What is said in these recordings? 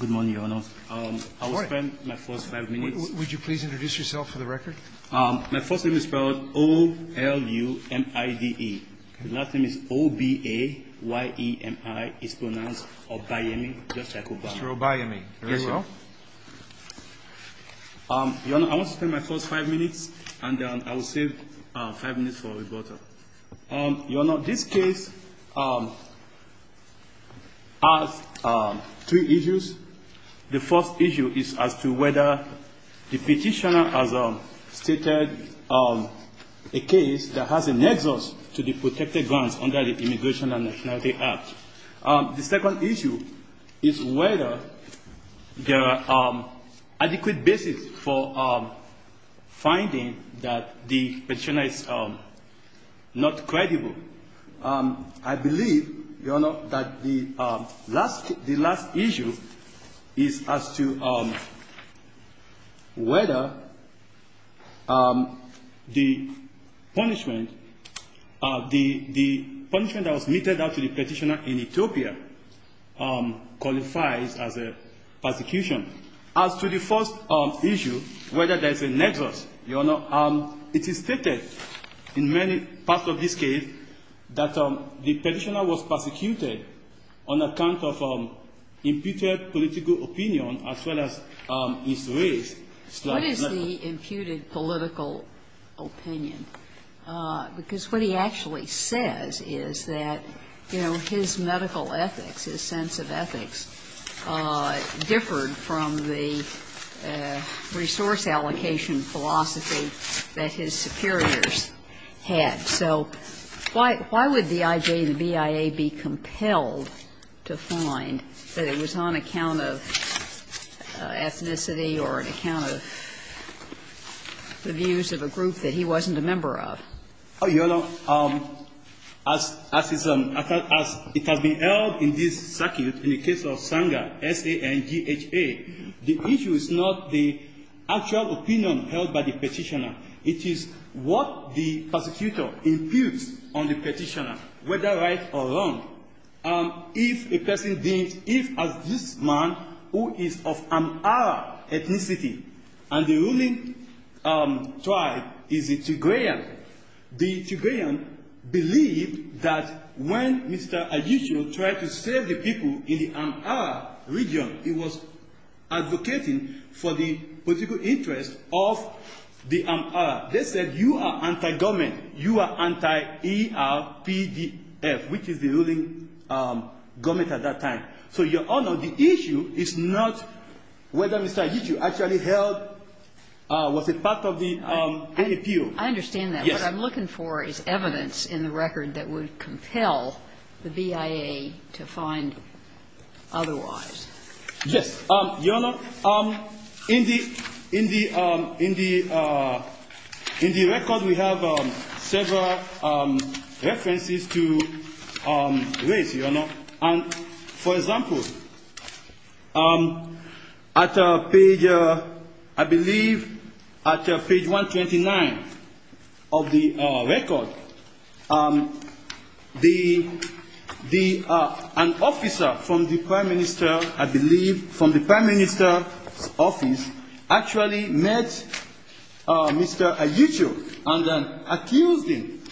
Good morning, Your Honor. I will spend my first five minutes. Would you please introduce yourself for the record? My first name is spelled O-L-U-M-I-D-E. My last name is O-B-A-Y-E-M-I. It's pronounced Obayemi, just like Obama. Mr. Obayemi, very well. Your Honor, I will spend my first five minutes, and then I will save five minutes for rebuttal. Your Honor, this case has three issues. The first issue is as to whether the petitioner has stated a case that has a nexus to the protected grounds under the Immigration and Nationality Act. The second issue is whether there are adequate basis for finding that the petitioner is not credible. I believe, Your Honor, that the last issue is as to whether the punishment that was meted out to the petitioner in Ethiopia qualifies as a persecution. As to the first issue, whether there is a nexus, Your Honor, it is stated in many parts of this case that the petitioner was persecuted on account of imputed political opinion as well as his race. What is the imputed political opinion? Because what he actually says is that, you know, his medical ethics, his sense of ethics, differed from the resource allocation philosophy that his superiors had. So why would D.I.J. and the BIA be compelled to find that it was on account of ethnicity or on account of the views of a group that he wasn't a member of? Your Honor, as it has been held in this circuit, in the case of Sanger, S-A-N-G-H-A, the issue is not the actual opinion held by the petitioner. It is what the persecutor imputes on the petitioner, whether right or wrong. If a person deems, if as this man who is of Amara ethnicity, and the ruling tribe is a Tigrayan, the Tigrayan believed that when Mr. Adichio tried to save the people in the Amara region, he was advocating for the political interest of the Amara. They said you are anti-government. You are anti-ERPDF, which is the ruling government at that time. So, Your Honor, the issue is not whether Mr. Adichio actually held or was a part of the appeal. I understand that. Yes. What I'm looking for is evidence in the record that would compel the BIA to find otherwise. Yes. Your Honor, in the record we have several references to race, Your Honor. For example, at page, I believe, at page 129 of the record, an officer from the prime minister, I believe, from the prime minister's office, actually met Mr. Adichio and accused him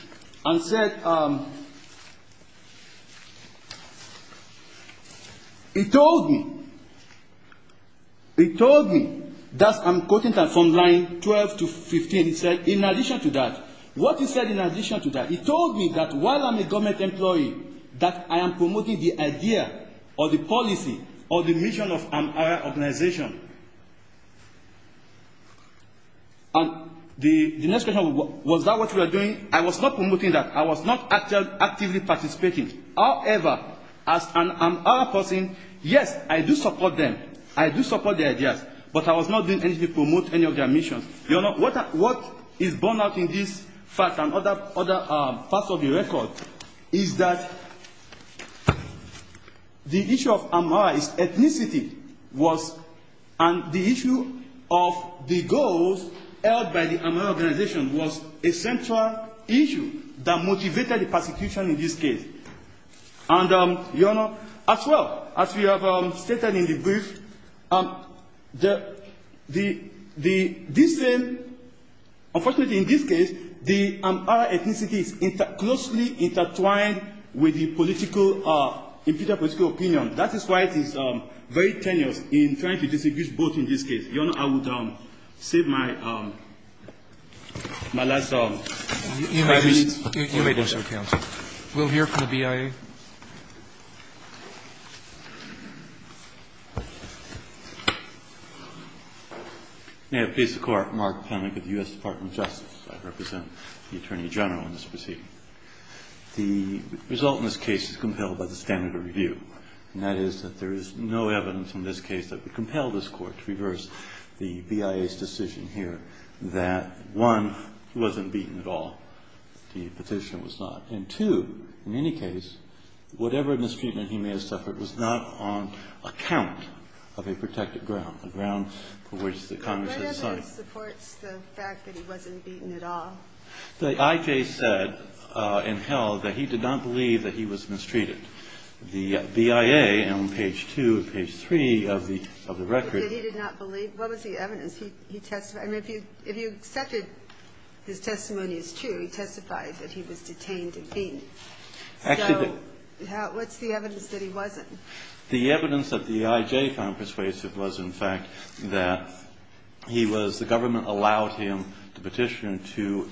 and said, he told me, he told me, that I'm quoting from line 12 to 15, he said, in addition to that, what he said in addition to that, he told me that while I'm a government employee, that I am promoting the idea or the policy or the mission of Amara organization. And the next question, was that what you were doing? I was not promoting that. I was not actively participating. However, as an Amara person, yes, I do support them. I do support their ideas. But I was not doing anything to promote any of their missions. Your Honor, what is born out in this fact and other parts of the record, is that the issue of Amara's ethnicity was, and the issue of the goals held by the Amara organization was a central issue that motivated the prosecution in this case. And, Your Honor, as well, as we have stated in the brief, the, the, this, unfortunately, in this case, the Amara ethnicity is closely intertwined with the political opinion. That is why it is very tenuous in trying to distinguish both in this case. Your Honor, I would save my last five minutes. You may do so, counsel. We'll hear from the BIA. May it please the Court. Mark Pennick of the U.S. Department of Justice. I represent the Attorney General in this proceeding. The result in this case is compelled by the standard of review, and that is that there is no evidence in this case that would compel this Court to reverse the BIA's decision here that, one, it wasn't beaten at all. The petitioner was not. And, two, in any case, whatever mistreatment he may have suffered was not on account of a protected ground, a ground for which the Congress had decided. What evidence supports the fact that he wasn't beaten at all? The I.J. said and held that he did not believe that he was mistreated. The BIA on page 2 and page 3 of the, of the record. That he did not believe? What was the evidence? I mean, if you accepted his testimony as true, he testified that he was detained and beaten. So what's the evidence that he wasn't? The evidence that the I.J. found persuasive was, in fact, that he was, the government allowed him, the petitioner, to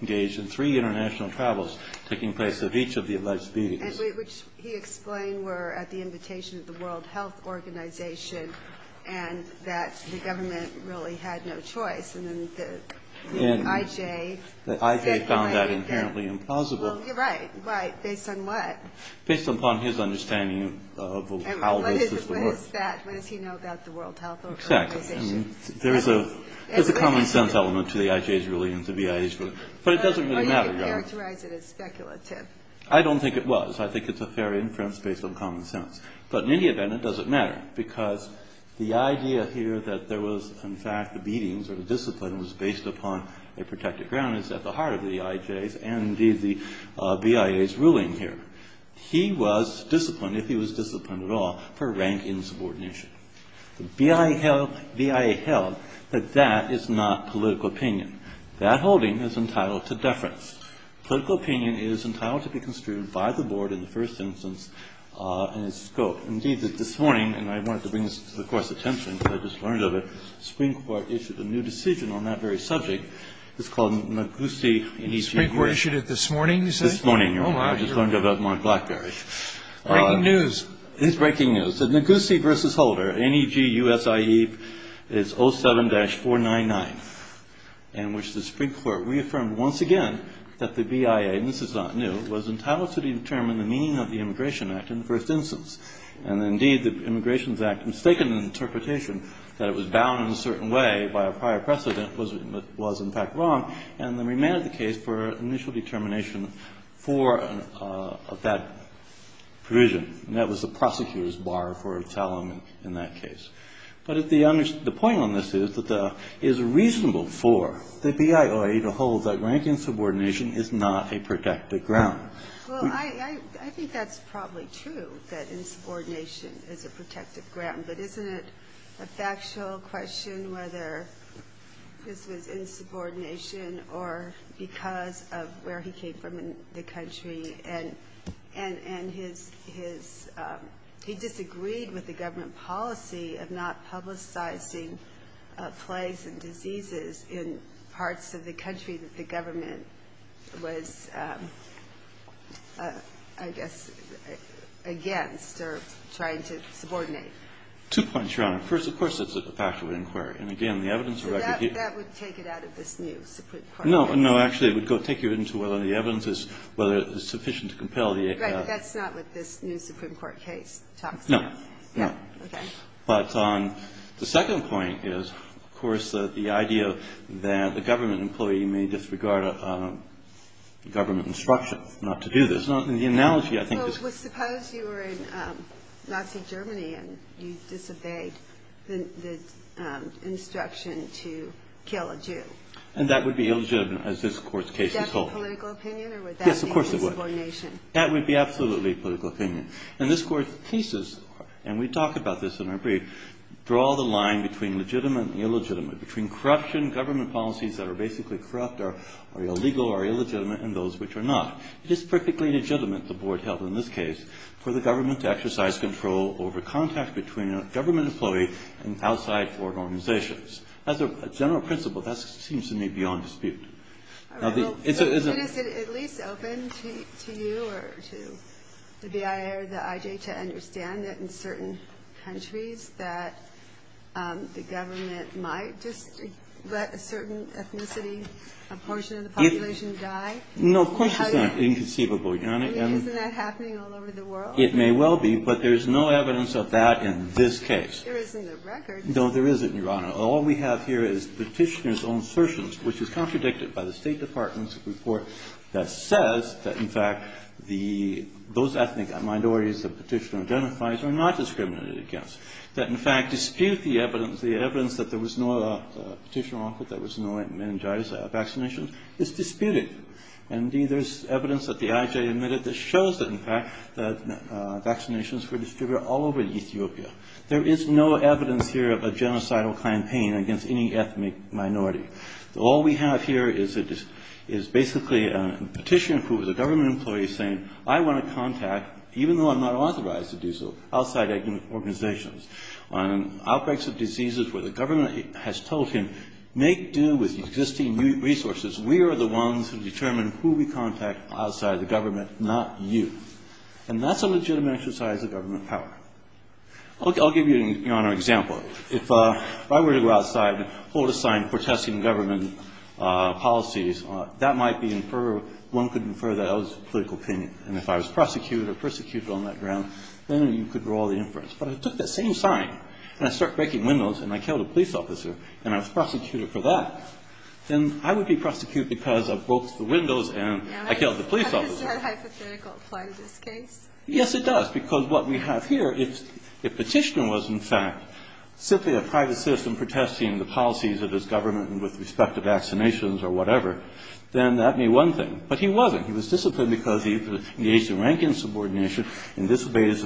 engage in three international travels taking place at each of the alleged beatings. Which he explained were at the invitation of the World Health Organization and that the government really had no choice. And then the I.J. speculated that. The I.J. found that inherently implausible. Well, you're right. Right. Based on what? Based upon his understanding of how this is to work. What is that? What does he know about the World Health Organization? Exactly. I mean, there is a, there's a common sense element to the I.J.'s ruling and the BIA's ruling. But it doesn't really matter, does it? Or you could characterize it as speculative. I don't think it was. I think it's a fair inference based on common sense. But in any event, it doesn't matter. Because the idea here that there was, in fact, the beatings or the discipline was based upon a protected ground is at the heart of the I.J.'s and indeed the BIA's ruling here. He was disciplined, if he was disciplined at all, for rank insubordination. The BIA held that that is not political opinion. That holding is entitled to deference. Political opinion is entitled to be construed by the board in the first instance in its scope. Indeed, this morning, and I wanted to bring this to the Court's attention because I just learned of it, the Supreme Court issued a new decision on that very subject. It's called Negussi v. Holder. The Supreme Court issued it this morning, you say? This morning, Your Honor. Oh, my. I just learned of it on Blackberry. Breaking news. It is breaking news. Negussi v. Holder, N-E-G-U-S-I-E, is 07-499, in which the Supreme Court reaffirmed once again that the BIA, and this is not new, was entitled to determine the meaning of the Immigration Act in the first instance. And indeed, the Immigration Act mistaken an interpretation that it was bound in a certain way by a prior precedent was, in fact, wrong, and then remanded the case for initial determination for that provision. And that was the prosecutor's bar for its element in that case. But the point on this is that it is reasonable for the BIA to hold that rank insubordination is not a protected ground. Well, I think that's probably true, that insubordination is a protected ground. But isn't it a factual question whether this was insubordination or because of where he came from in the country and his – he disagreed with the government policy of not publicizing plagues and diseases in parts of the country that the government was, I guess, against or trying to subordinate? Two points, Your Honor. First, of course, it's a fact of inquiry. And again, the evidence of record here – No, no. Actually, it would go – take you into whether the evidence is – whether it's sufficient to compel the – Right. But that's not what this new Supreme Court case talks about. No. No. Okay. But the second point is, of course, the idea that a government employee may disregard a government instruction not to do this. The analogy, I think – Well, suppose you were in Nazi Germany and you disobeyed the instruction to kill a Jew. And that would be illegitimate, as this Court's case is told. Would that be political opinion or would that be insubordination? Yes, of course it would. That would be absolutely political opinion. And this Court's thesis – and we talk about this in our brief – draw the line between legitimate and illegitimate, between corruption, government policies that are basically corrupt or illegal or illegitimate, and those which are not. It is perfectly legitimate, the Board held in this case, for the government to exercise control over contact between a government employee and outside foreign organizations. As a general principle, that seems to me beyond dispute. Is it at least open to you or to the BIA or the IJ to understand that in certain countries that the government might just let a certain ethnicity, a portion of the population die? No, of course it's inconceivable, Your Honor. Isn't that happening all over the world? It may well be, but there's no evidence of that in this case. There isn't a record. No, there isn't, Your Honor. All we have here is the Petitioner's own assertions, which is contradicted by the State Department's report that says that, in fact, those ethnic minorities the Petitioner identifies are not discriminated against. That, in fact, dispute the evidence, the evidence that there was no Petitioner-on-Court, there was no meningitis vaccination, is disputed. Indeed, there's evidence that the IJ admitted that shows that, in fact, that vaccinations were distributed all over Ethiopia. There is no evidence here of a genocidal campaign against any ethnic minority. All we have here is basically a Petitioner who is a government employee saying, I want to contact, even though I'm not authorized to do so, outside organizations, on outbreaks of diseases where the government has told him, make do with existing resources. We are the ones who determine who we contact outside the government, not you. And that's a legitimate exercise of government power. I'll give you an example. If I were to go outside and hold a sign protesting government policies, that might be inferred, one could infer that I was of political opinion. And if I was prosecuted or persecuted on that ground, then you could draw the inference. But if I took that same sign, and I start breaking windows, and I killed a police officer, and I was prosecuted for that, then I would be prosecuted because I broke the windows and I killed the police officer. Now, does that hypothetical apply to this case? Yes, it does, because what we have here, if Petitioner was, in fact, simply a private citizen protesting the policies of his government with respect to vaccinations or whatever, then that may be one thing. But he wasn't. He was disciplined because he engaged in rank and subordination and disobeyed his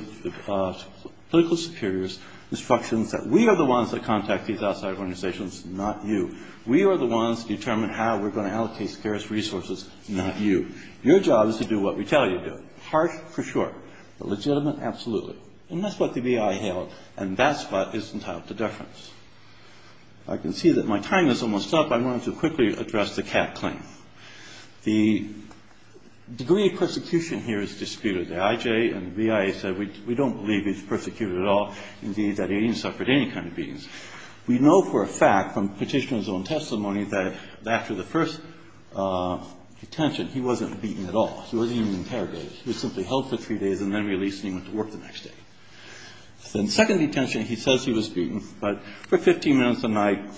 political superior's instructions that we are the ones that contact these outside organizations, not you. We are the ones that determine how we're going to allocate scarce resources, not you. Your job is to do what we tell you to do. Harsh? For sure. But legitimate? Absolutely. And that's what the BIA held. And that's what is entitled to deference. I can see that my time is almost up. I'm going to quickly address the Catt claim. The degree of persecution here is disputed. The IJ and the BIA said we don't believe he's persecuted at all, indeed, that he suffered any kind of beatings. We know for a fact from Petitioner's own testimony that after the first detention, he wasn't beaten at all. He wasn't even interrogated. He was simply held for three days and then released, and he went to work the next day. Then second detention, he says he was beaten, but for 15 minutes a night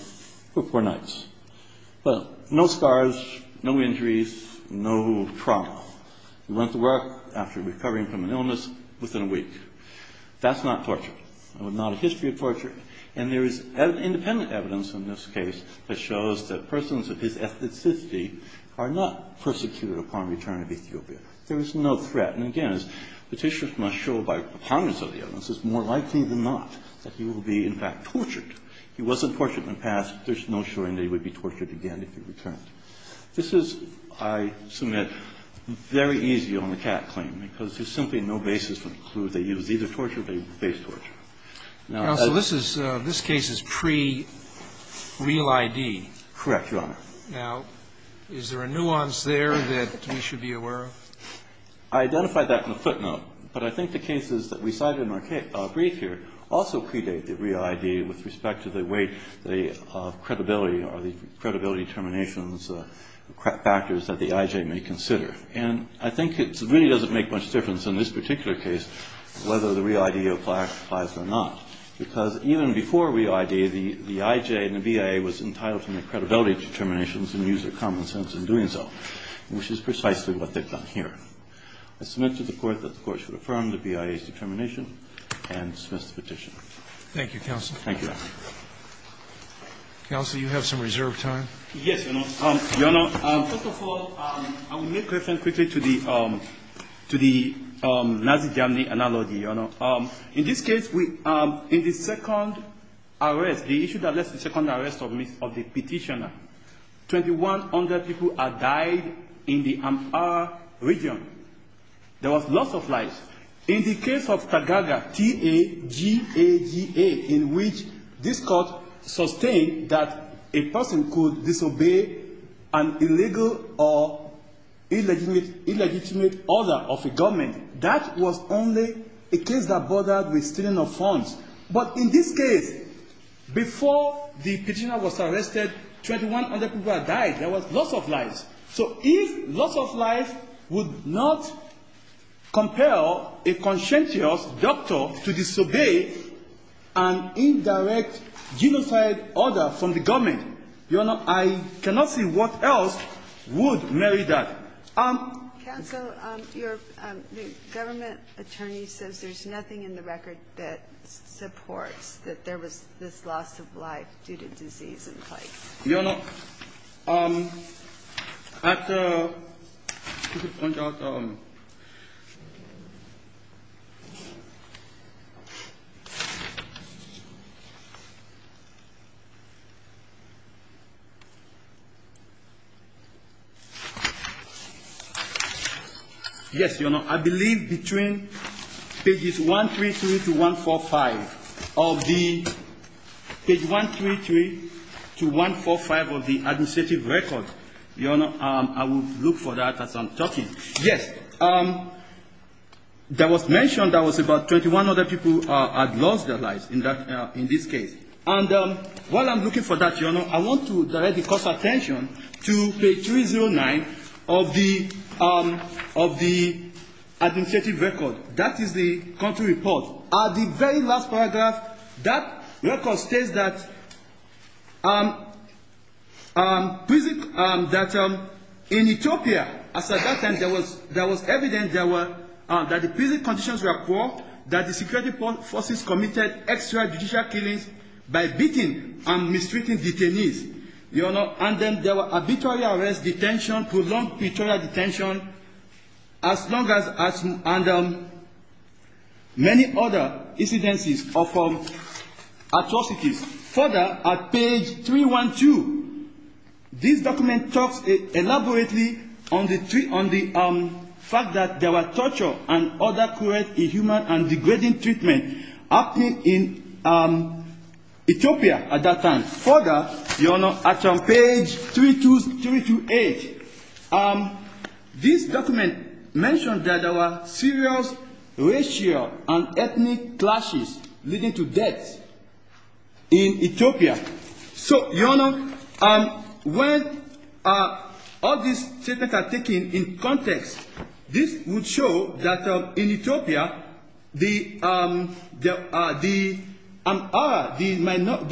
for four nights. Well, no scars, no injuries, no trauma. He went to work after recovering from an illness within a week. That's not torture. There was not a history of torture. And there is independent evidence in this case that shows that persons of his ethnicity are not persecuted upon return of Ethiopia. There is no threat. And again, as Petitioner must show by the ponderance of the evidence, it's more likely than not that he will be in fact tortured. He wasn't tortured in the past. There's no showing that he would be tortured again if he returned. This is, I submit, very easy on the Catt claim, because there's simply no basis for the clue that he was either tortured or faced torture. Now, this is, this case is pre-real ID. Correct, Your Honor. Now, is there a nuance there that we should be aware of? I identified that in the footnote. But I think the cases that we cited in our brief here also predate the real ID with respect to the way the credibility or the credibility determinations, factors that the I.J. may consider. And I think it really doesn't make much difference in this particular case whether the real ID applies or not. Because even before real ID, the I.J. and the BIA was entitled to make credibility determinations and use their common sense in doing so, which is precisely what they've done here. I submit to the Court that the Court should affirm the BIA's determination and dismiss the petition. Thank you, Counsel. Thank you, Your Honor. Counsel, you have some reserved time. Yes, Your Honor. Your Honor, first of all, I will make reference quickly to the Nazi Germany analogy, Your Honor. In this case, in the second arrest, the issue that led to the second arrest of the petitioner, 2,100 people had died in the Ampara region. There was loss of life. In the case of Tagaga, T-A-G-A-G-A, in which this Court sustained that a person could disobey an illegal or illegitimate order of a government, that was only a case that bothered with stealing of funds. But in this case, before the petitioner was arrested, 2,100 people had died. There was loss of life. So if loss of life would not compel a conscientious doctor to disobey an order of a government, Your Honor, I cannot see what else would marry that. Counsel, your government attorney says there's nothing in the record that supports that there was this loss of life due to disease in place. Your Honor, at the... Yes, Your Honor. I believe between pages 133 to 145 of the...page 133 to 145 of the administrative record, Your Honor, I will look for that as I'm talking. Yes. There was mention that was about 21 other people had lost their lives in this case. And while I'm looking for that, Your Honor, I want to direct the Court's attention to page 309 of the administrative record. That is the country report. At the very last paragraph, that record states that in Ethiopia, at that time, there was evident that the prison conditions were poor, that the security forces committed extrajudicial killings by beating and mistreating detainees. Your Honor, and then there were arbitrary arrest, detention, prolonged pretrial detention, as long as...and many other incidences of atrocities. Further, at page 312, this document talks elaborately on the fact that there were torture and other cruel, inhuman, and degrading treatment happening in Ethiopia at that time. Further, Your Honor, at page 328, this document mentions that there were serious racial and ethnic clashes leading to deaths in Ethiopia. So, Your Honor, when all these statements are taken in context, this would show that in Ethiopia, the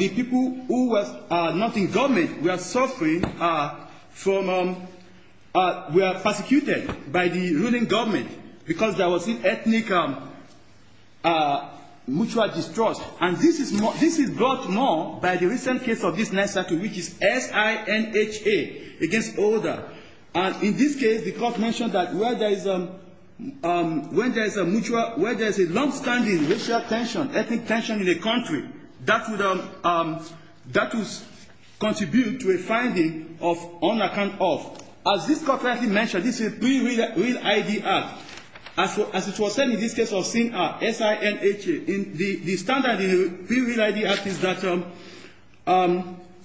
people who were not in government were suffering from...were persecuted by the ruling government because there was ethnic mutual distrust. And this is brought to know by the recent case of this NYSERDA, which is S-I-N-H-A against S-I-N-H-A. And in this case, the court mentioned that where there is a longstanding racial tension, ethnic tension in a country, that would contribute to a finding of unaccountable. As this court mentioned, this is a pre-real ID act. As it was said in this case of SINHA, S-I-N-H-A. The standard in the pre-real ID act is that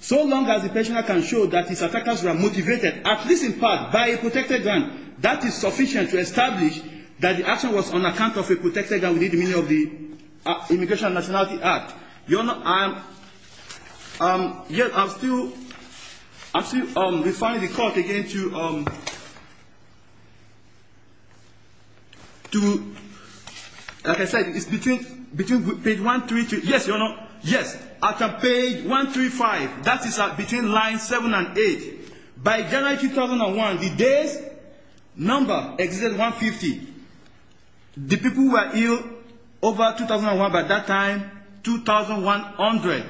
so long as the prisoner can show that his attackers were motivated, at least in part, by a protected gun, that is sufficient to establish that the action was on account of a protected gun within the meaning of the Immigration and Nationality Act. Your Honor, I'm still referring the court again to...like I said, it's between page one, three, two. Yes, Your Honor. Yes. At page one, three, five. That is between line seven and eight. By January 2001, the day's number exceeded 150. The people who were ill over 2001, by that time, 2,100.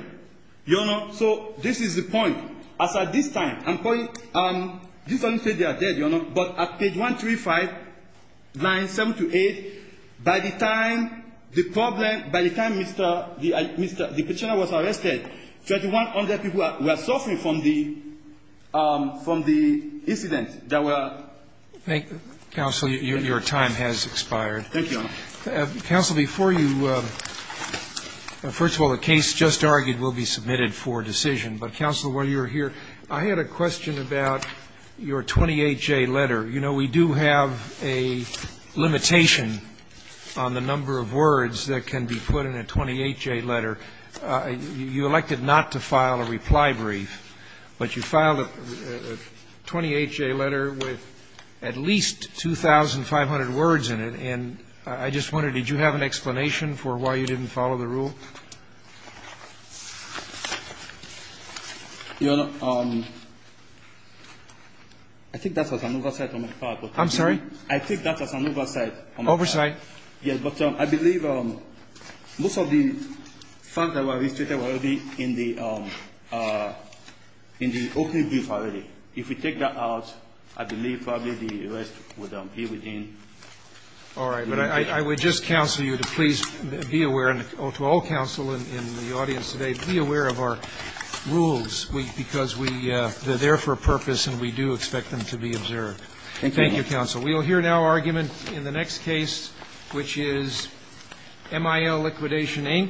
Your Honor, so this is the point. As of this time, I'm pointing...this doesn't say they are dead, Your Honor, but at page one, three, five, line seven to eight, by the time the prisoner was arrested, 2,100 people were suffering from the incident. That was... Thank you. Counsel, your time has expired. Thank you, Your Honor. Counsel, before you...first of all, the case just argued will be submitted for decision. But, Counsel, while you were here, I had a question about your 28J letter. You know, we do have a limitation on the number of words that can be put in a 28J letter. You elected not to file a reply brief, but you filed a 28J letter with at least 2,500 words in it. And I just wondered, did you have an explanation for why you didn't follow the rule? Your Honor, I think that was an oversight on my part. I'm sorry? I think that was an oversight on my part. Oversight. Yes, but I believe most of the facts that were illustrated were already in the opening brief already. If we take that out, I believe probably the rest would be within... All right. But I would just counsel you to please be aware, and to all counsel in the audience today, be aware of our rules, because we they're there for a purpose and we do expect them to be observed. Thank you, Your Honor. Thank you, Counsel. We will hear now argument in the next case, which is MIL Liquidation Inc. v. Westfall.